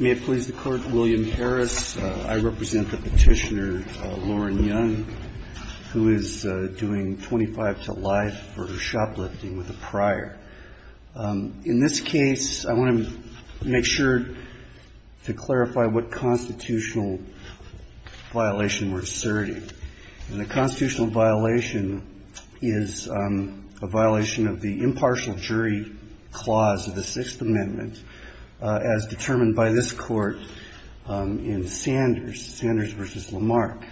May it please the Court, William Harris. I represent the petitioner Lauren Young, who is doing 25 to life for shoplifting with a prior. In this case, I want to make sure to clarify what constitutional violation we're asserting. And the constitutional violation is a violation of the impartial jury clause of the Sixth Amendment, as determined by this Court in Sanders v. Lamarck,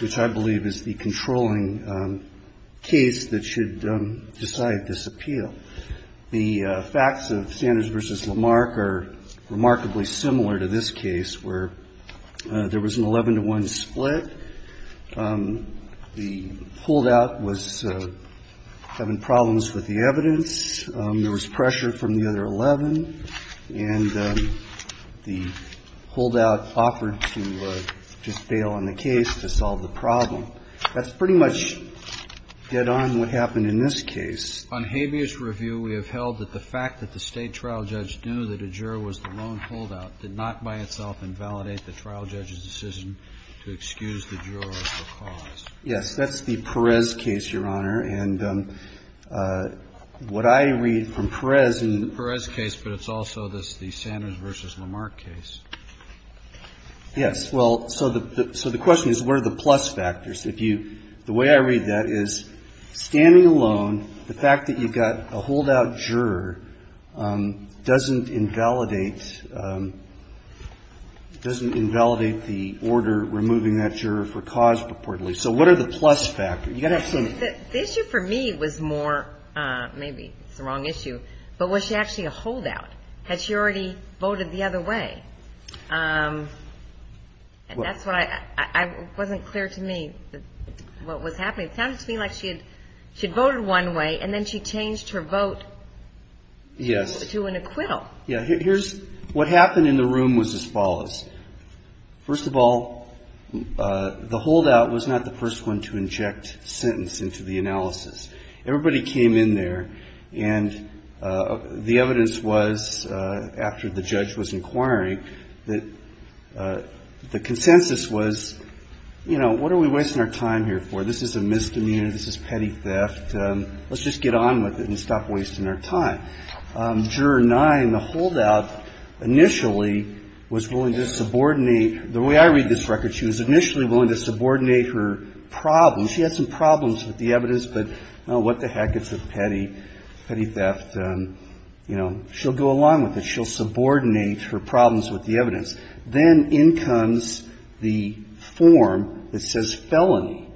which I believe is the controlling case that should decide this appeal. The facts of Sanders v. Lamarck are remarkably similar to this case, where there was an 11 to 1 split. The holdout was having problems with the evidence. There was pressure from the other 11. And the holdout offered to just bail on the case to solve the problem. That's pretty much dead on what happened in this case. On habeas review, we have held that the fact that the State trial judge knew that a juror was the lone holdout did not by itself invalidate the trial judge's decision to excuse the juror of the cause. Yes. That's the Perez case, Your Honor. And what I read from Perez in the — The Perez case, but it's also the Sanders v. Lamarck case. Yes. Well, so the question is, what are the plus factors? If you — the way I read that is, standing alone, the fact that you've got a holdout juror doesn't invalidate — doesn't invalidate the order removing that juror for cause purportedly. So what are the plus factors? You've got to have some — The issue for me was more — maybe it's the wrong issue, but was she actually a holdout? Had she already voted the other way? And that's what I — it wasn't clear to me what was happening. It sounded to me like she had — she had voted one way, and then she changed her vote — Yes. — to an acquittal. Yes. Here's — what happened in the room was as follows. First of all, the holdout was not the first one to inject sentence into the analysis. Everybody came in there, and the evidence was, after the judge was inquiring, that the consensus was, you know, what are we wasting our time here for? This is a misdemeanor. This is petty theft. Let's just get on with it and stop wasting our time. Juror 9, the holdout, initially was willing to subordinate — the way I read this record, she was initially willing to subordinate her problems. She had some problems with the evidence, but, oh, what the heck? It's a petty — petty theft. You know, she'll go along with it. She'll subordinate her problems with the evidence. Then in comes the form that says felony.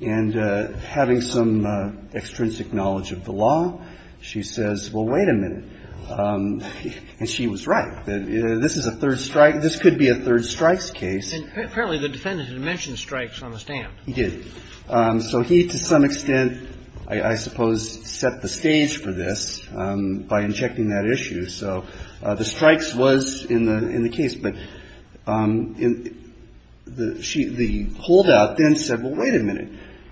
And having some extrinsic knowledge of the law, she says, well, wait a minute. And she was right. This is a third strike. This could be a third strikes case. And apparently the defendant had mentioned strikes on the stand. He did. So he, to some extent, I suppose, set the stage for this by injecting that issue. So the strikes was in the case. But the holdout then said, well, wait a minute.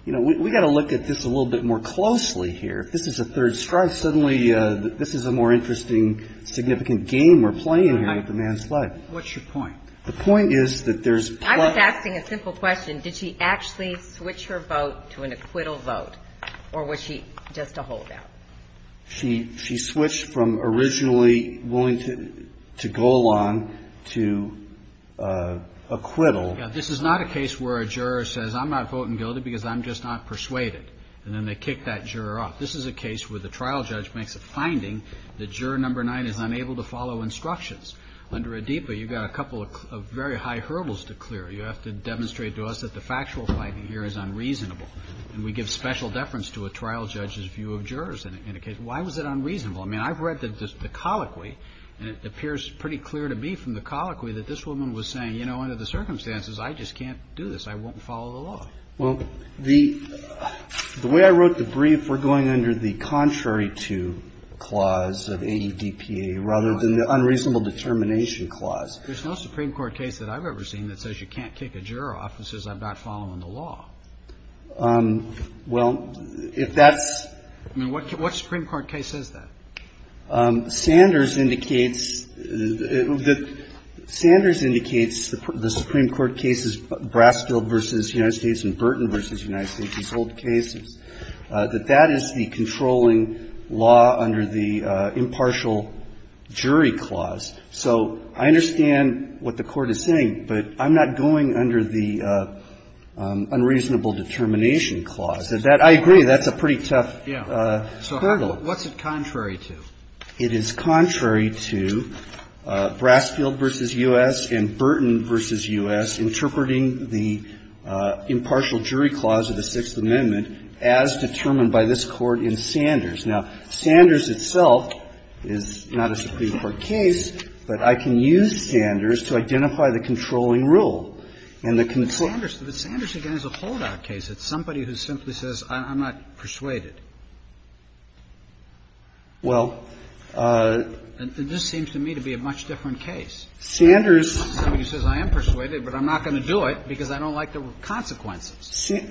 You know, we've got to look at this a little bit more closely here. If this is a third strike, suddenly this is a more interesting, significant game we're playing here with the man's life. What's your point? The point is that there's — I was asking a simple question. Did she actually switch her vote to an acquittal vote, or was she just a holdout? She switched from originally willing to go along to acquittal. Yeah. This is not a case where a juror says, I'm not voting guilty because I'm just not persuaded. And then they kick that juror off. This is a case where the trial judge makes a finding that juror number nine is unable to follow instructions. Under ADIPA, you've got a couple of very high hurdles to clear. You have to demonstrate to us that the factual finding here is unreasonable. And we give special deference to a trial judge's view of jurors in a case. Why was it unreasonable? I mean, I've read the colloquy, and it appears pretty clear to me from the colloquy that this woman was saying, you know, under the circumstances, I just can't do this. I won't follow the law. Well, the way I wrote the brief, we're going under the contrary to clause of ADPA rather than the unreasonable determination clause. There's no Supreme Court case that I've ever seen that says you can't kick a juror off and says, I'm not following the law. Well, if that's — I mean, what Supreme Court case is that? Sanders indicates — Sanders indicates the Supreme Court case is Brasfield v. United States v. Burton v. United States, these old cases, that that is the controlling law under the impartial jury clause. So I understand what the Court is saying, but I'm not going under the unreasonable determination clause. I agree, that's a pretty tough hurdle. So what's it contrary to? It is contrary to Brasfield v. U.S. and Burton v. U.S. interpreting the impartial jury clause of the Sixth Amendment as determined by this Court in Sanders. Now, Sanders itself is not a Supreme Court case, but I can use Sanders to identify the controlling rule. And the controlling rule — But Sanders, again, is a holdout case. It's somebody who simply says, I'm not persuaded. Well — And this seems to me to be a much different case. Sanders — Somebody who says, I am persuaded, but I'm not going to do it because I don't like the consequences.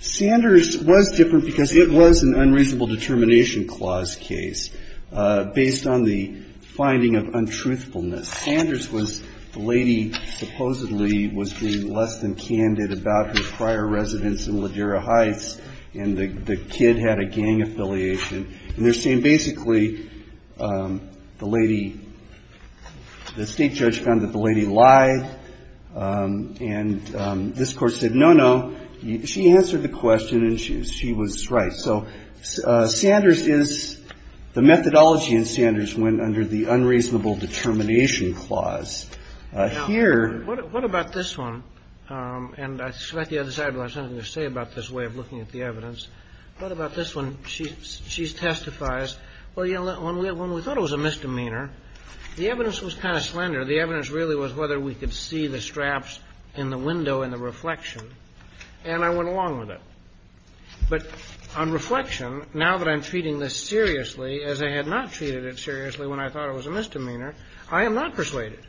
Sanders was different because it was an unreasonable determination clause case, based on the finding of untruthfulness. Sanders was — the lady supposedly was being less than candid about her prior residence in Ladera Heights, and the kid had a gang affiliation. And they're saying basically the lady — the State judge found that the lady lied, and this Court said, no, no, she answered the question and she was right. So Sanders is — the methodology in Sanders went under the unreasonable determination clause. Here — Now, what about this one? And I suspect you had decided you had something to say about this way of looking at the evidence. What about this one? She testifies, well, you know, when we thought it was a misdemeanor, the evidence was kind of slender. The evidence really was whether we could see the straps in the window in the reflection. And I went along with it. But on reflection, now that I'm treating this seriously, as I had not treated it seriously when I thought it was a misdemeanor, I am not persuaded.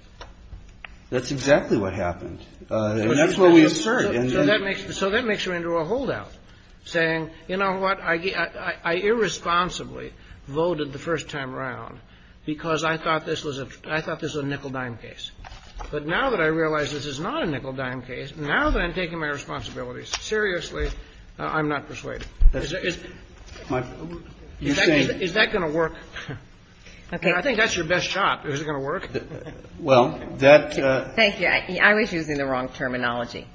That's exactly what happened. That's what we assert. So that makes — so that makes her into a holdout, saying, you know what, I irresponsibly voted the first time around because I thought this was a — I thought this was a nickel-dime case. But now that I realize this is not a nickel-dime case, now that I'm taking my responsibilities seriously, I'm not persuaded. Is that going to work? Okay. I think that's your best shot. Is it going to work? Well, that — Thank you. I was using the wrong terminology.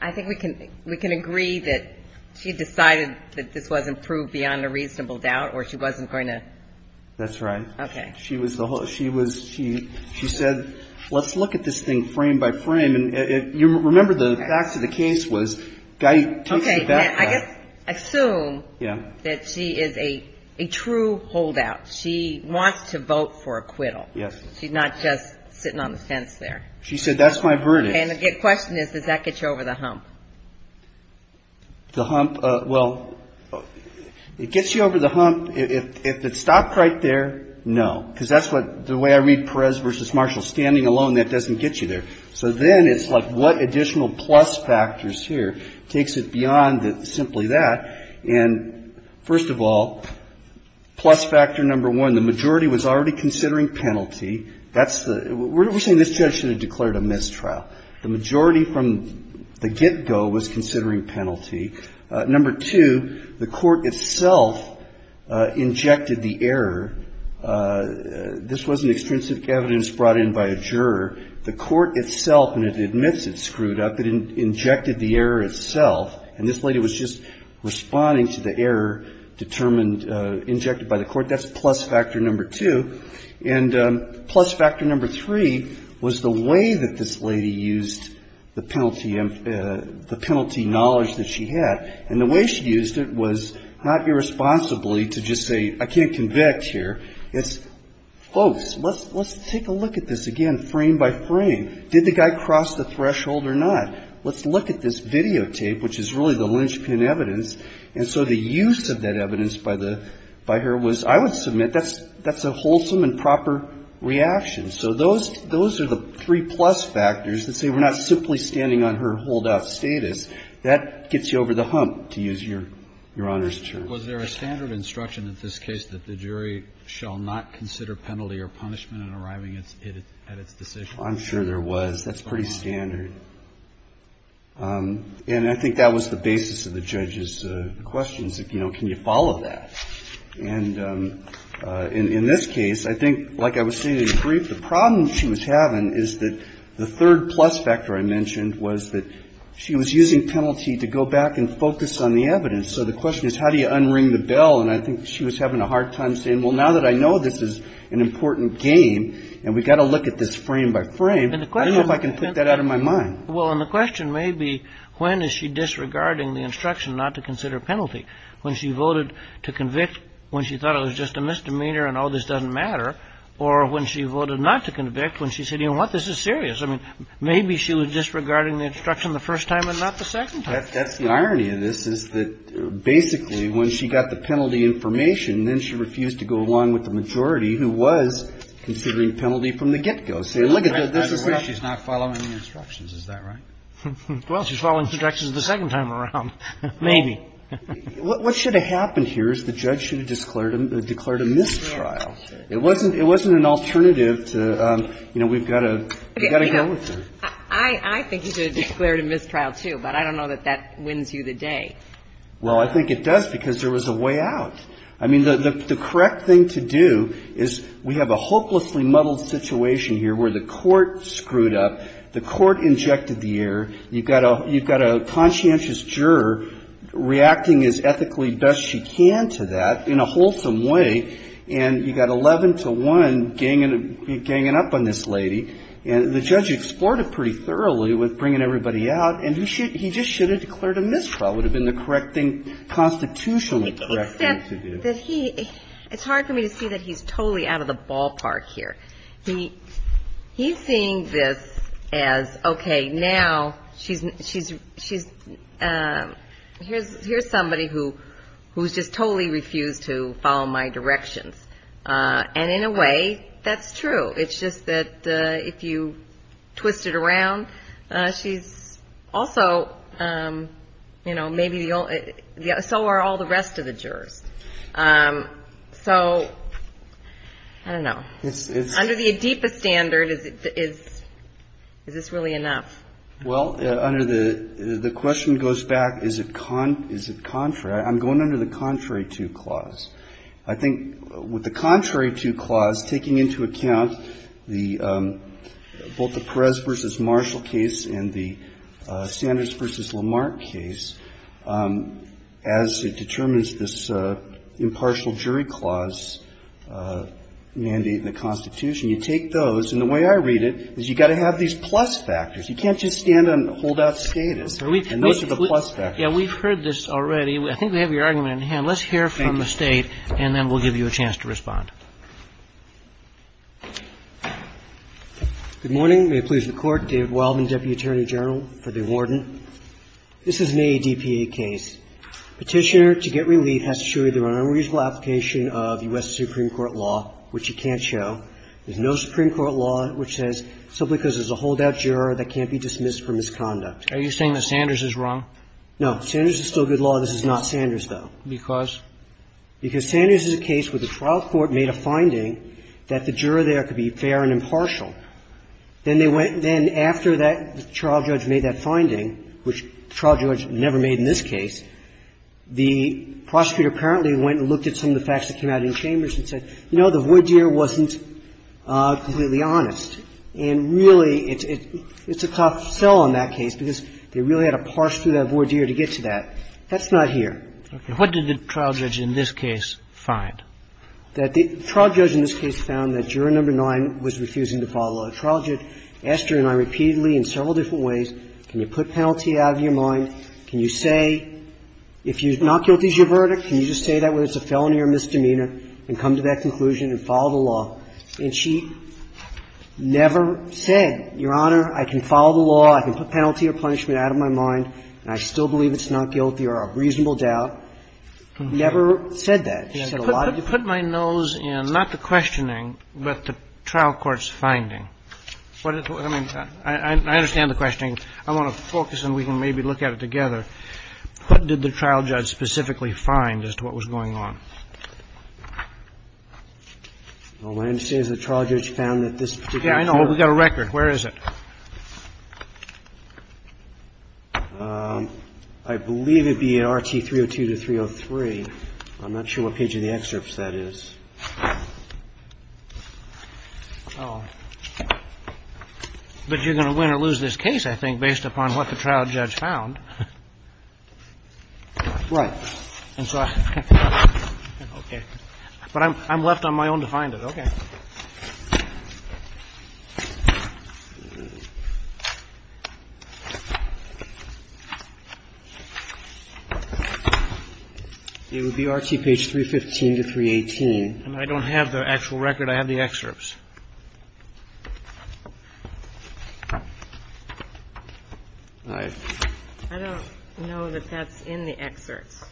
I think we can — we can agree that she decided that this wasn't proved beyond a reasonable holdout, or she wasn't going to — That's right. Okay. She was the — she was — she said, let's look at this thing frame by frame. And you remember the facts of the case was — Okay. I guess — assume that she is a true holdout. She wants to vote for acquittal. Yes. She's not just sitting on the fence there. She said, that's my verdict. And the question is, does that get you over the hump? The hump? Well, it gets you over the hump. If it stopped right there, no. Because that's what — the way I read Perez v. Marshall, standing alone, that doesn't get you there. So then it's like, what additional plus factors here takes it beyond simply that? And first of all, plus factor number one, the majority was already considering penalty. That's the — we're saying this judge should have declared a mistrial. The majority from the get-go was considering penalty. Number two, the court itself injected the error. This wasn't extrinsic evidence brought in by a juror. The court itself, and it admits it screwed up, it injected the error itself. And this lady was just responding to the error determined — injected by the court. That's plus factor number two. And plus factor number three was the way that this lady used the penalty — the penalty knowledge that she had. And the way she used it was not irresponsibly to just say, I can't convict here. It's, folks, let's take a look at this again, frame by frame. Did the guy cross the threshold or not? Let's look at this videotape, which is really the linchpin evidence. And so the use of that evidence by the — by her was — I would submit that's a wholesome and proper reaction. So those — those are the three plus factors that say we're not simply standing on her holdout status. That gets you over the hump, to use your Honor's term. Was there a standard instruction in this case that the jury shall not consider penalty or punishment in arriving at its decision? I'm sure there was. That's pretty standard. And I think that was the basis of the judge's questions, you know, can you follow that? And in this case, I think, like I was saying in brief, the problem she was having is that the third plus factor I mentioned was that she was using penalty to go back and focus on the evidence. So the question is, how do you unring the bell? And I think she was having a hard time saying, well, now that I know this is an important game and we've got to look at this frame by frame, I don't know if I can put that out of my mind. Well, and the question may be, when is she disregarding the instruction not to consider penalty? When she voted to convict, when she thought it was just a misdemeanor and all this doesn't matter. Or when she voted not to convict, when she said, you know what, this is serious. I mean, maybe she was disregarding the instruction the first time and not the second time. That's the irony of this, is that basically when she got the penalty information, then she refused to go along with the majority who was considering penalty from the get go. So look at this, she's not following the instructions. Is that right? Well, she's following instructions the second time around. Maybe. What should have happened here is the judge should have declared a mistrial. It wasn't an alternative to, you know, we've got to go with it. I think he should have declared a mistrial too, but I don't know that that wins you the day. Well, I think it does because there was a way out. I mean, the correct thing to do is we have a hopelessly muddled situation here where the court screwed up. The court injected the error. You've got a conscientious juror reacting as ethically best she can to that in a wholesome way, and you've got 11 to 1 ganging up on this lady. And the judge explored it pretty thoroughly with bringing everybody out, and he just should have declared a mistrial would have been the correct thing, constitutionally correct thing to do. It's hard for me to see that he's totally out of the ballpark here. He's seeing this as, okay, now she's, here's somebody who's just totally refused to follow my directions. And in a way, that's true. It's just that if you twist it around, she's also, you know, maybe so are all the rest of the jurors. So, I don't know. Under the ADEPA standard, is this really enough? Well, under the, the question goes back, is it contrary? I'm going under the contrary to clause. I think with the contrary to clause, taking into account both the Perez versus Marshall case and the Sanders versus Lamarck case, as it determines this impartial jury clause mandate in the Constitution, you take those, and the way I read it, is you've got to have these plus factors. You can't just stand and hold out status, and those are the plus factors. We've heard this already. I think we have your argument in hand. Let's hear from the State, and then we'll give you a chance to respond. Good morning. May it please the Court. David Wildman, Deputy Attorney General for the Warden. This is an ADEPA case. Petitioner, to get relief, has to show you the unreasonable application of U.S. Supreme Court law, which you can't show. There's no Supreme Court law which says simply because there's a holdout juror that can't be dismissed for misconduct. Are you saying that Sanders is wrong? No. Sanders is still good law. This is not Sanders, though. Because? Because Sanders is a case where the trial court made a finding that the juror there could be fair and impartial. Then they went and then after that, the trial judge made that finding, which the trial judge never made in this case. The prosecutor apparently went and looked at some of the facts that came out in Chambers and said, you know, the voir dire wasn't completely honest. And really, it's a coughed sell on that case because they really had to parse through that voir dire to get to that. That's not here. Okay. What did the trial judge in this case find? The trial judge in this case found that juror number 9 was refusing to follow a law. The trial judge asked her and I repeatedly in several different ways, can you put penalty out of your mind? Can you say, if not guilty is your verdict, can you just say that whether it's a felony or a misdemeanor and come to that conclusion and follow the law? And she never said, Your Honor, I can follow the law, I can put penalty or punishment out of my mind, and I still believe it's not guilty or a reasonable doubt. Never said that. She said a lot of different things. Put my nose in not the questioning, but the trial court's finding. I mean, I understand the questioning. I want to focus and we can maybe look at it together. What did the trial judge specifically find as to what was going on? Well, my understanding is the trial judge found that this particular juror. Yeah, I know. We've got a record. Where is it? I believe it'd be an RT 302 to 303. I'm not sure what page of the excerpts that is. Oh, but you're going to win or lose this case, I think, based upon what the trial judge found. Right. And so, okay, but I'm left on my own to find it. Okay. It would be RT page 315 to 318. And I don't have the actual record. I have the excerpts. I don't know that that's in the excerpts.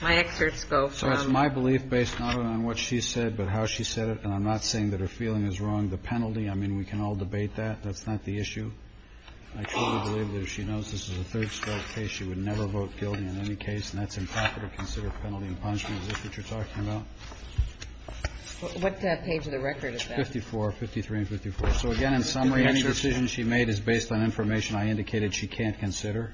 My excerpts go from. My belief based not on what she said, but how she said it. And I'm not saying that her feeling is wrong. The penalty. I mean, we can all debate that. That's not the issue. I truly believe that if she knows this is a third strike case, she would never vote guilty in any case. And that's impractical to consider penalty and punishment. Is this what you're talking about? What page of the record is that? 54, 53 and 54. So again, in summary, any decision she made is based on information I indicated she can't consider.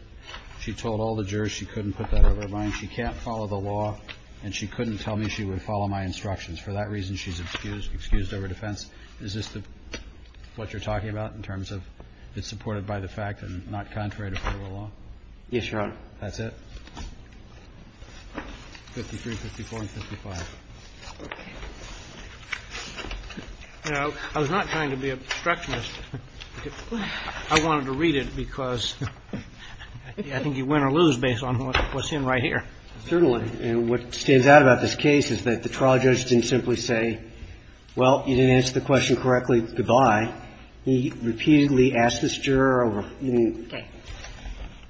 She told all the jurors she couldn't put that out of her mind. She can't follow the law. And she couldn't tell me she would follow my instructions. For that reason, she's excused over defense. Is this what you're talking about in terms of it's supported by the fact and not contrary to federal law? Yes, Your Honor. That's it? 53, 54 and 55. You know, I was not trying to be obstructionist. I wanted to read it because I think you win or lose based on what's in right here. Certainly. And what stands out about this case is that the trial judge didn't simply say, well, you didn't answer the question correctly, goodbye. He repeatedly asked this juror over.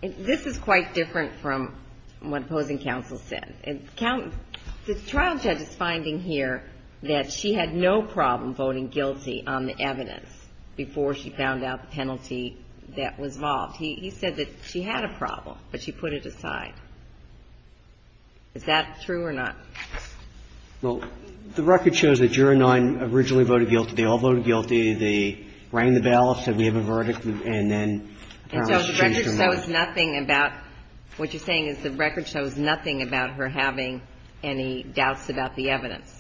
This is quite different from what opposing counsel said. The trial judge is finding here that she had no problem voting guilty on the evidence before she found out the penalty that was involved. He said that she had a problem, but she put it aside. Is that true or not? Well, the record shows that juror nine originally voted guilty. They all voted guilty. They rang the bell, said we have a verdict, and then apparently changed their mind. And so the record shows nothing about her having any doubts about the evidence?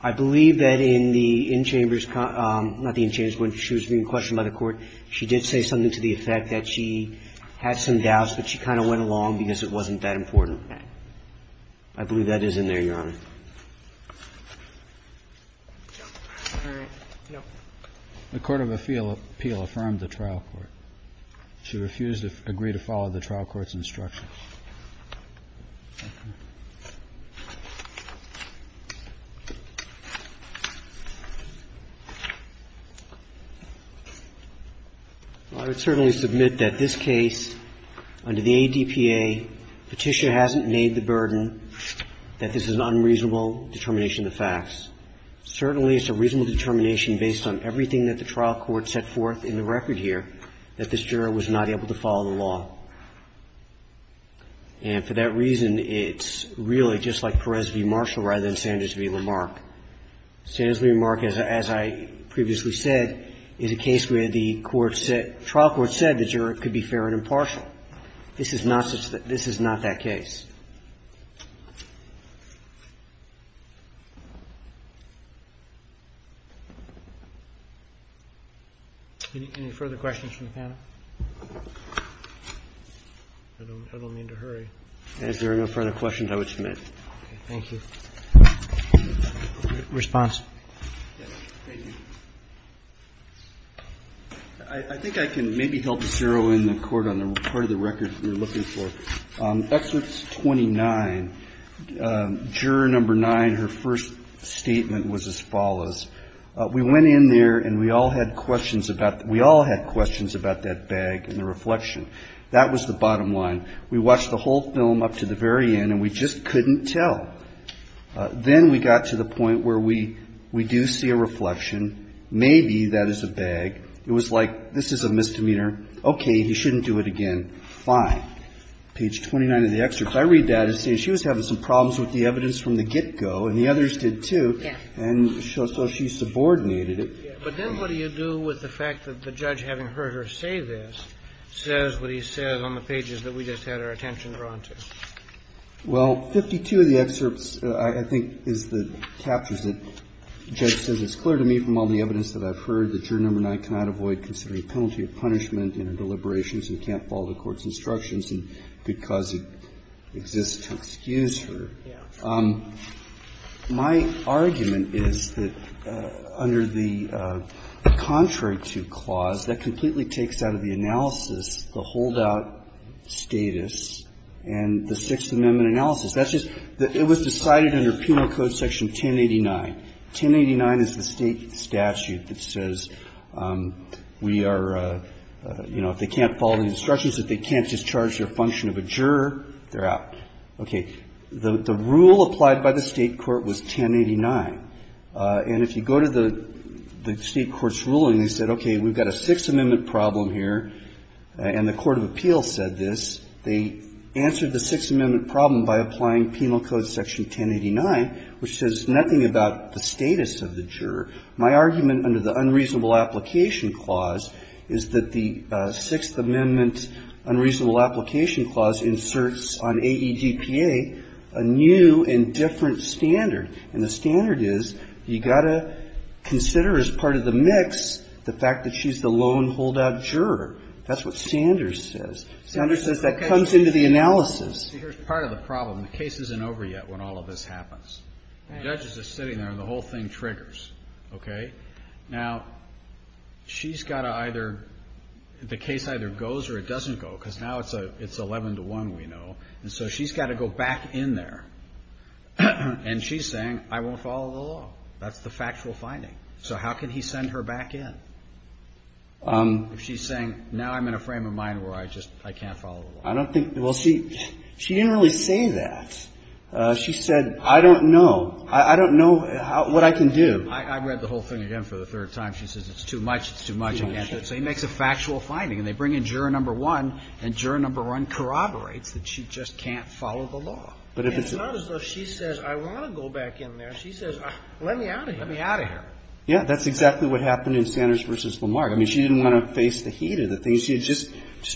I believe that in the in-chambers – not the in-chambers, but she was being questioned by the court. She did say something to the effect that she had some doubts, but she kind of went along because it wasn't that important. I believe that is in there, Your Honor. The court of appeal affirmed the trial court. She refused to agree to follow the trial court's instructions. I would certainly submit that this case, under the ADPA, Petitia hasn't made the burden that this is an unreasonable determination of the facts. Certainly, it's a reasonable determination based on everything that the trial court set forth in the record here that this juror was not able to follow the law. And for that reason, it's really just like Perez v. Marshall rather than Sanders v. Lamarck. Sanders v. Lamarck, as I previously said, is a case where the court said – the trial court said the juror could be fair and impartial. This is not such – this is not that case. Any further questions from the panel? I don't mean to hurry. If there are no further questions, I would submit. Thank you. Response? I think I can maybe help zero in the court on the part of the record that we're looking for. On Excerpt 29, Juror No. 9, her first statement was as follows. We went in there and we all had questions about – we all had questions about that bag and the reflection. That was the bottom line. We watched the whole film up to the very end, and we just couldn't tell. Then we got to the point where we do see a reflection. Maybe that is a bag. It was like, this is a misdemeanor. Okay, he shouldn't do it again. Fine. Page 29 of the excerpt, if I read that, it says she was having some problems with the evidence from the get-go, and the others did, too. And so she subordinated it. But then what do you do with the fact that the judge, having heard her say this, says what he says on the pages that we just had our attention drawn to? Well, 52 of the excerpts, I think, is the captures that the judge says, It's clear to me from all the evidence that I've heard that Juror No. 9 cannot avoid considering a penalty of punishment in her deliberations and can't follow the court's instructions, and because it exists to excuse her. My argument is that under the contrary to clause, that completely takes out of the analysis the holdout status and the Sixth Amendment analysis. That's just that it was decided under Penal Code Section 1089. 1089 is the State statute that says we are, you know, if they can't follow the instructions, in other words, if they can't discharge their function of a juror, they're out. Okay. The rule applied by the State court was 1089. And if you go to the State court's ruling, they said, okay, we've got a Sixth Amendment problem here, and the court of appeals said this. They answered the Sixth Amendment problem by applying Penal Code Section 1089, which says nothing about the status of the juror. My argument under the unreasonable application clause is that the Sixth Amendment unreasonable application clause inserts on AEGPA a new and different standard, and the standard is you've got to consider as part of the mix the fact that she's the lone holdout juror. That's what Sanders says. Sanders says that comes into the analysis. See, here's part of the problem. The case isn't over yet when all of this happens. The judge is just sitting there, and the whole thing triggers. Okay. Now, she's got to either, the case either goes or it doesn't go, because now it's 11 to 1, we know, and so she's got to go back in there, and she's saying, I won't follow the law. That's the factual finding. So, how can he send her back in if she's saying, now I'm in a frame of mind where I just, I can't follow the law? I don't think, well, she didn't really say that. She said, I don't know. I don't know what I can do. I read the whole thing again for the third time. She says, it's too much, it's too much. So, he makes a factual finding, and they bring in juror number one, and juror number one corroborates that she just can't follow the law. It's not as though she says, I want to go back in there. She says, let me out of here. Yeah, that's exactly what happened in Sanders v. Lamarck. I mean, she didn't want to face the heat of the thing. She had just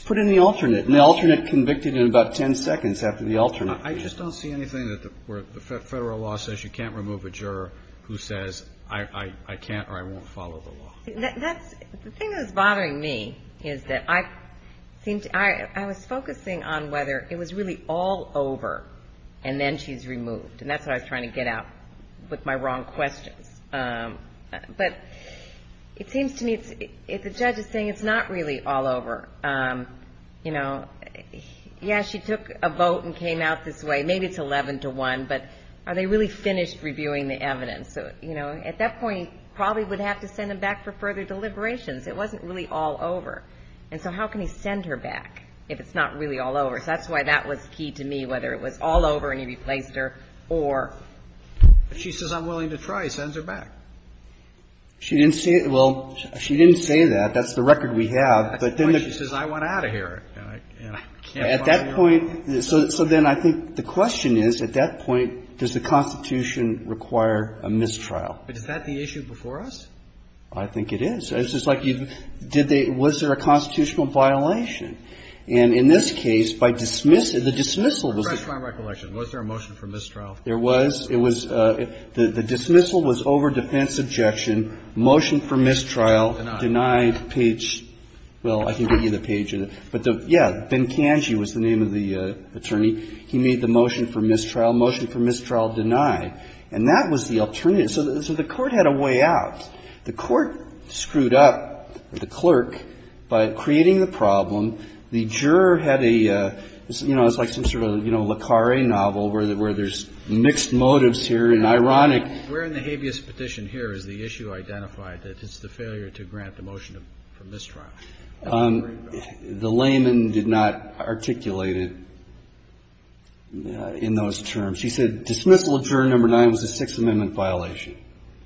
put in the alternate, and the alternate convicted in about 10 seconds after the alternate. I just don't see anything where the Federal law says you can't remove a juror who says, I can't or I won't follow the law. That's, the thing that's bothering me is that I seem to, I was focusing on whether it was really all over, and then she's removed. And that's what I was trying to get out with my wrong questions. But it seems to me, if the judge is saying it's not really all over, you know, yeah, she took a vote and came out this way. Maybe it's 11 to 1, but are they really finished reviewing the evidence? So, you know, at that point, probably would have to send him back for further deliberations. It wasn't really all over. And so how can he send her back if it's not really all over? So that's why that was key to me, whether it was all over and he replaced her or. But she says, I'm willing to try. He sends her back. She didn't say, well, she didn't say that. That's the record we have. But then the. She says, I want out of here. And I can't. At that point, so then I think the question is, at that point, does the Constitution require a mistrial? But is that the issue before us? I think it is. It's just like you did. Was there a constitutional violation? And in this case, by dismissal, the dismissal was. Refresh my recollection. Was there a motion for mistrial? There was. It was. The dismissal was over defense objection. Motion for mistrial denied page. Well, I can give you the page. But yeah, Ben Kanji was the name of the attorney. He made the motion for mistrial. Motion for mistrial denied. And that was the alternative. So the court had a way out. The court screwed up the clerk by creating the problem. The juror had a, you know, it's like some sort of, you know, Le Carre novel, where there's mixed motives here. And ironic. Where in the habeas petition here is the issue identified that it's the failure to grant the motion for mistrial? The layman did not articulate it in those terms. He said dismissal of juror number nine was a Sixth Amendment violation.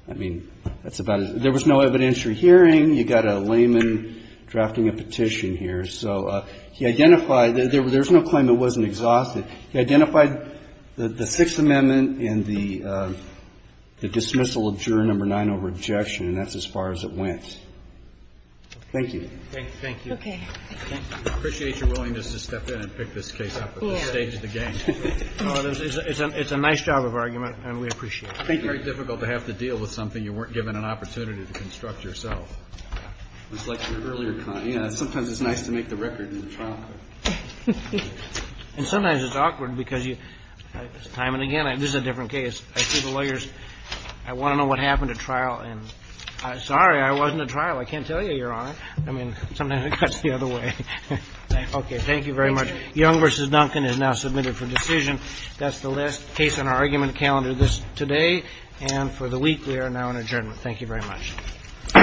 I mean, that's about it. There was no evidentiary hearing. You got a layman drafting a petition here. So he identified, there's no claim it wasn't exhausted. He identified the Sixth Amendment and the dismissal of juror number nine over objection. And that's as far as it went. Thank you. Thank you. Okay. I appreciate your willingness to step in and pick this case up at this stage of the game. It's a nice job of argument, and we appreciate it. It's very difficult to have to deal with something you weren't given an opportunity to construct yourself, just like your earlier comment. You know, sometimes it's nice to make the record in the trial. And sometimes it's awkward because you, time and again, this is a different case. I see the lawyers, I want to know what happened at trial, and sorry, I wasn't at trial. I can't tell you, Your Honor. I mean, sometimes it cuts the other way. Okay. Thank you very much. Young v. Duncan is now submitted for decision. That's the last case on our argument calendar today. And for the week, we are now in adjournment. Thank you very much. All rise, this court is adjourned.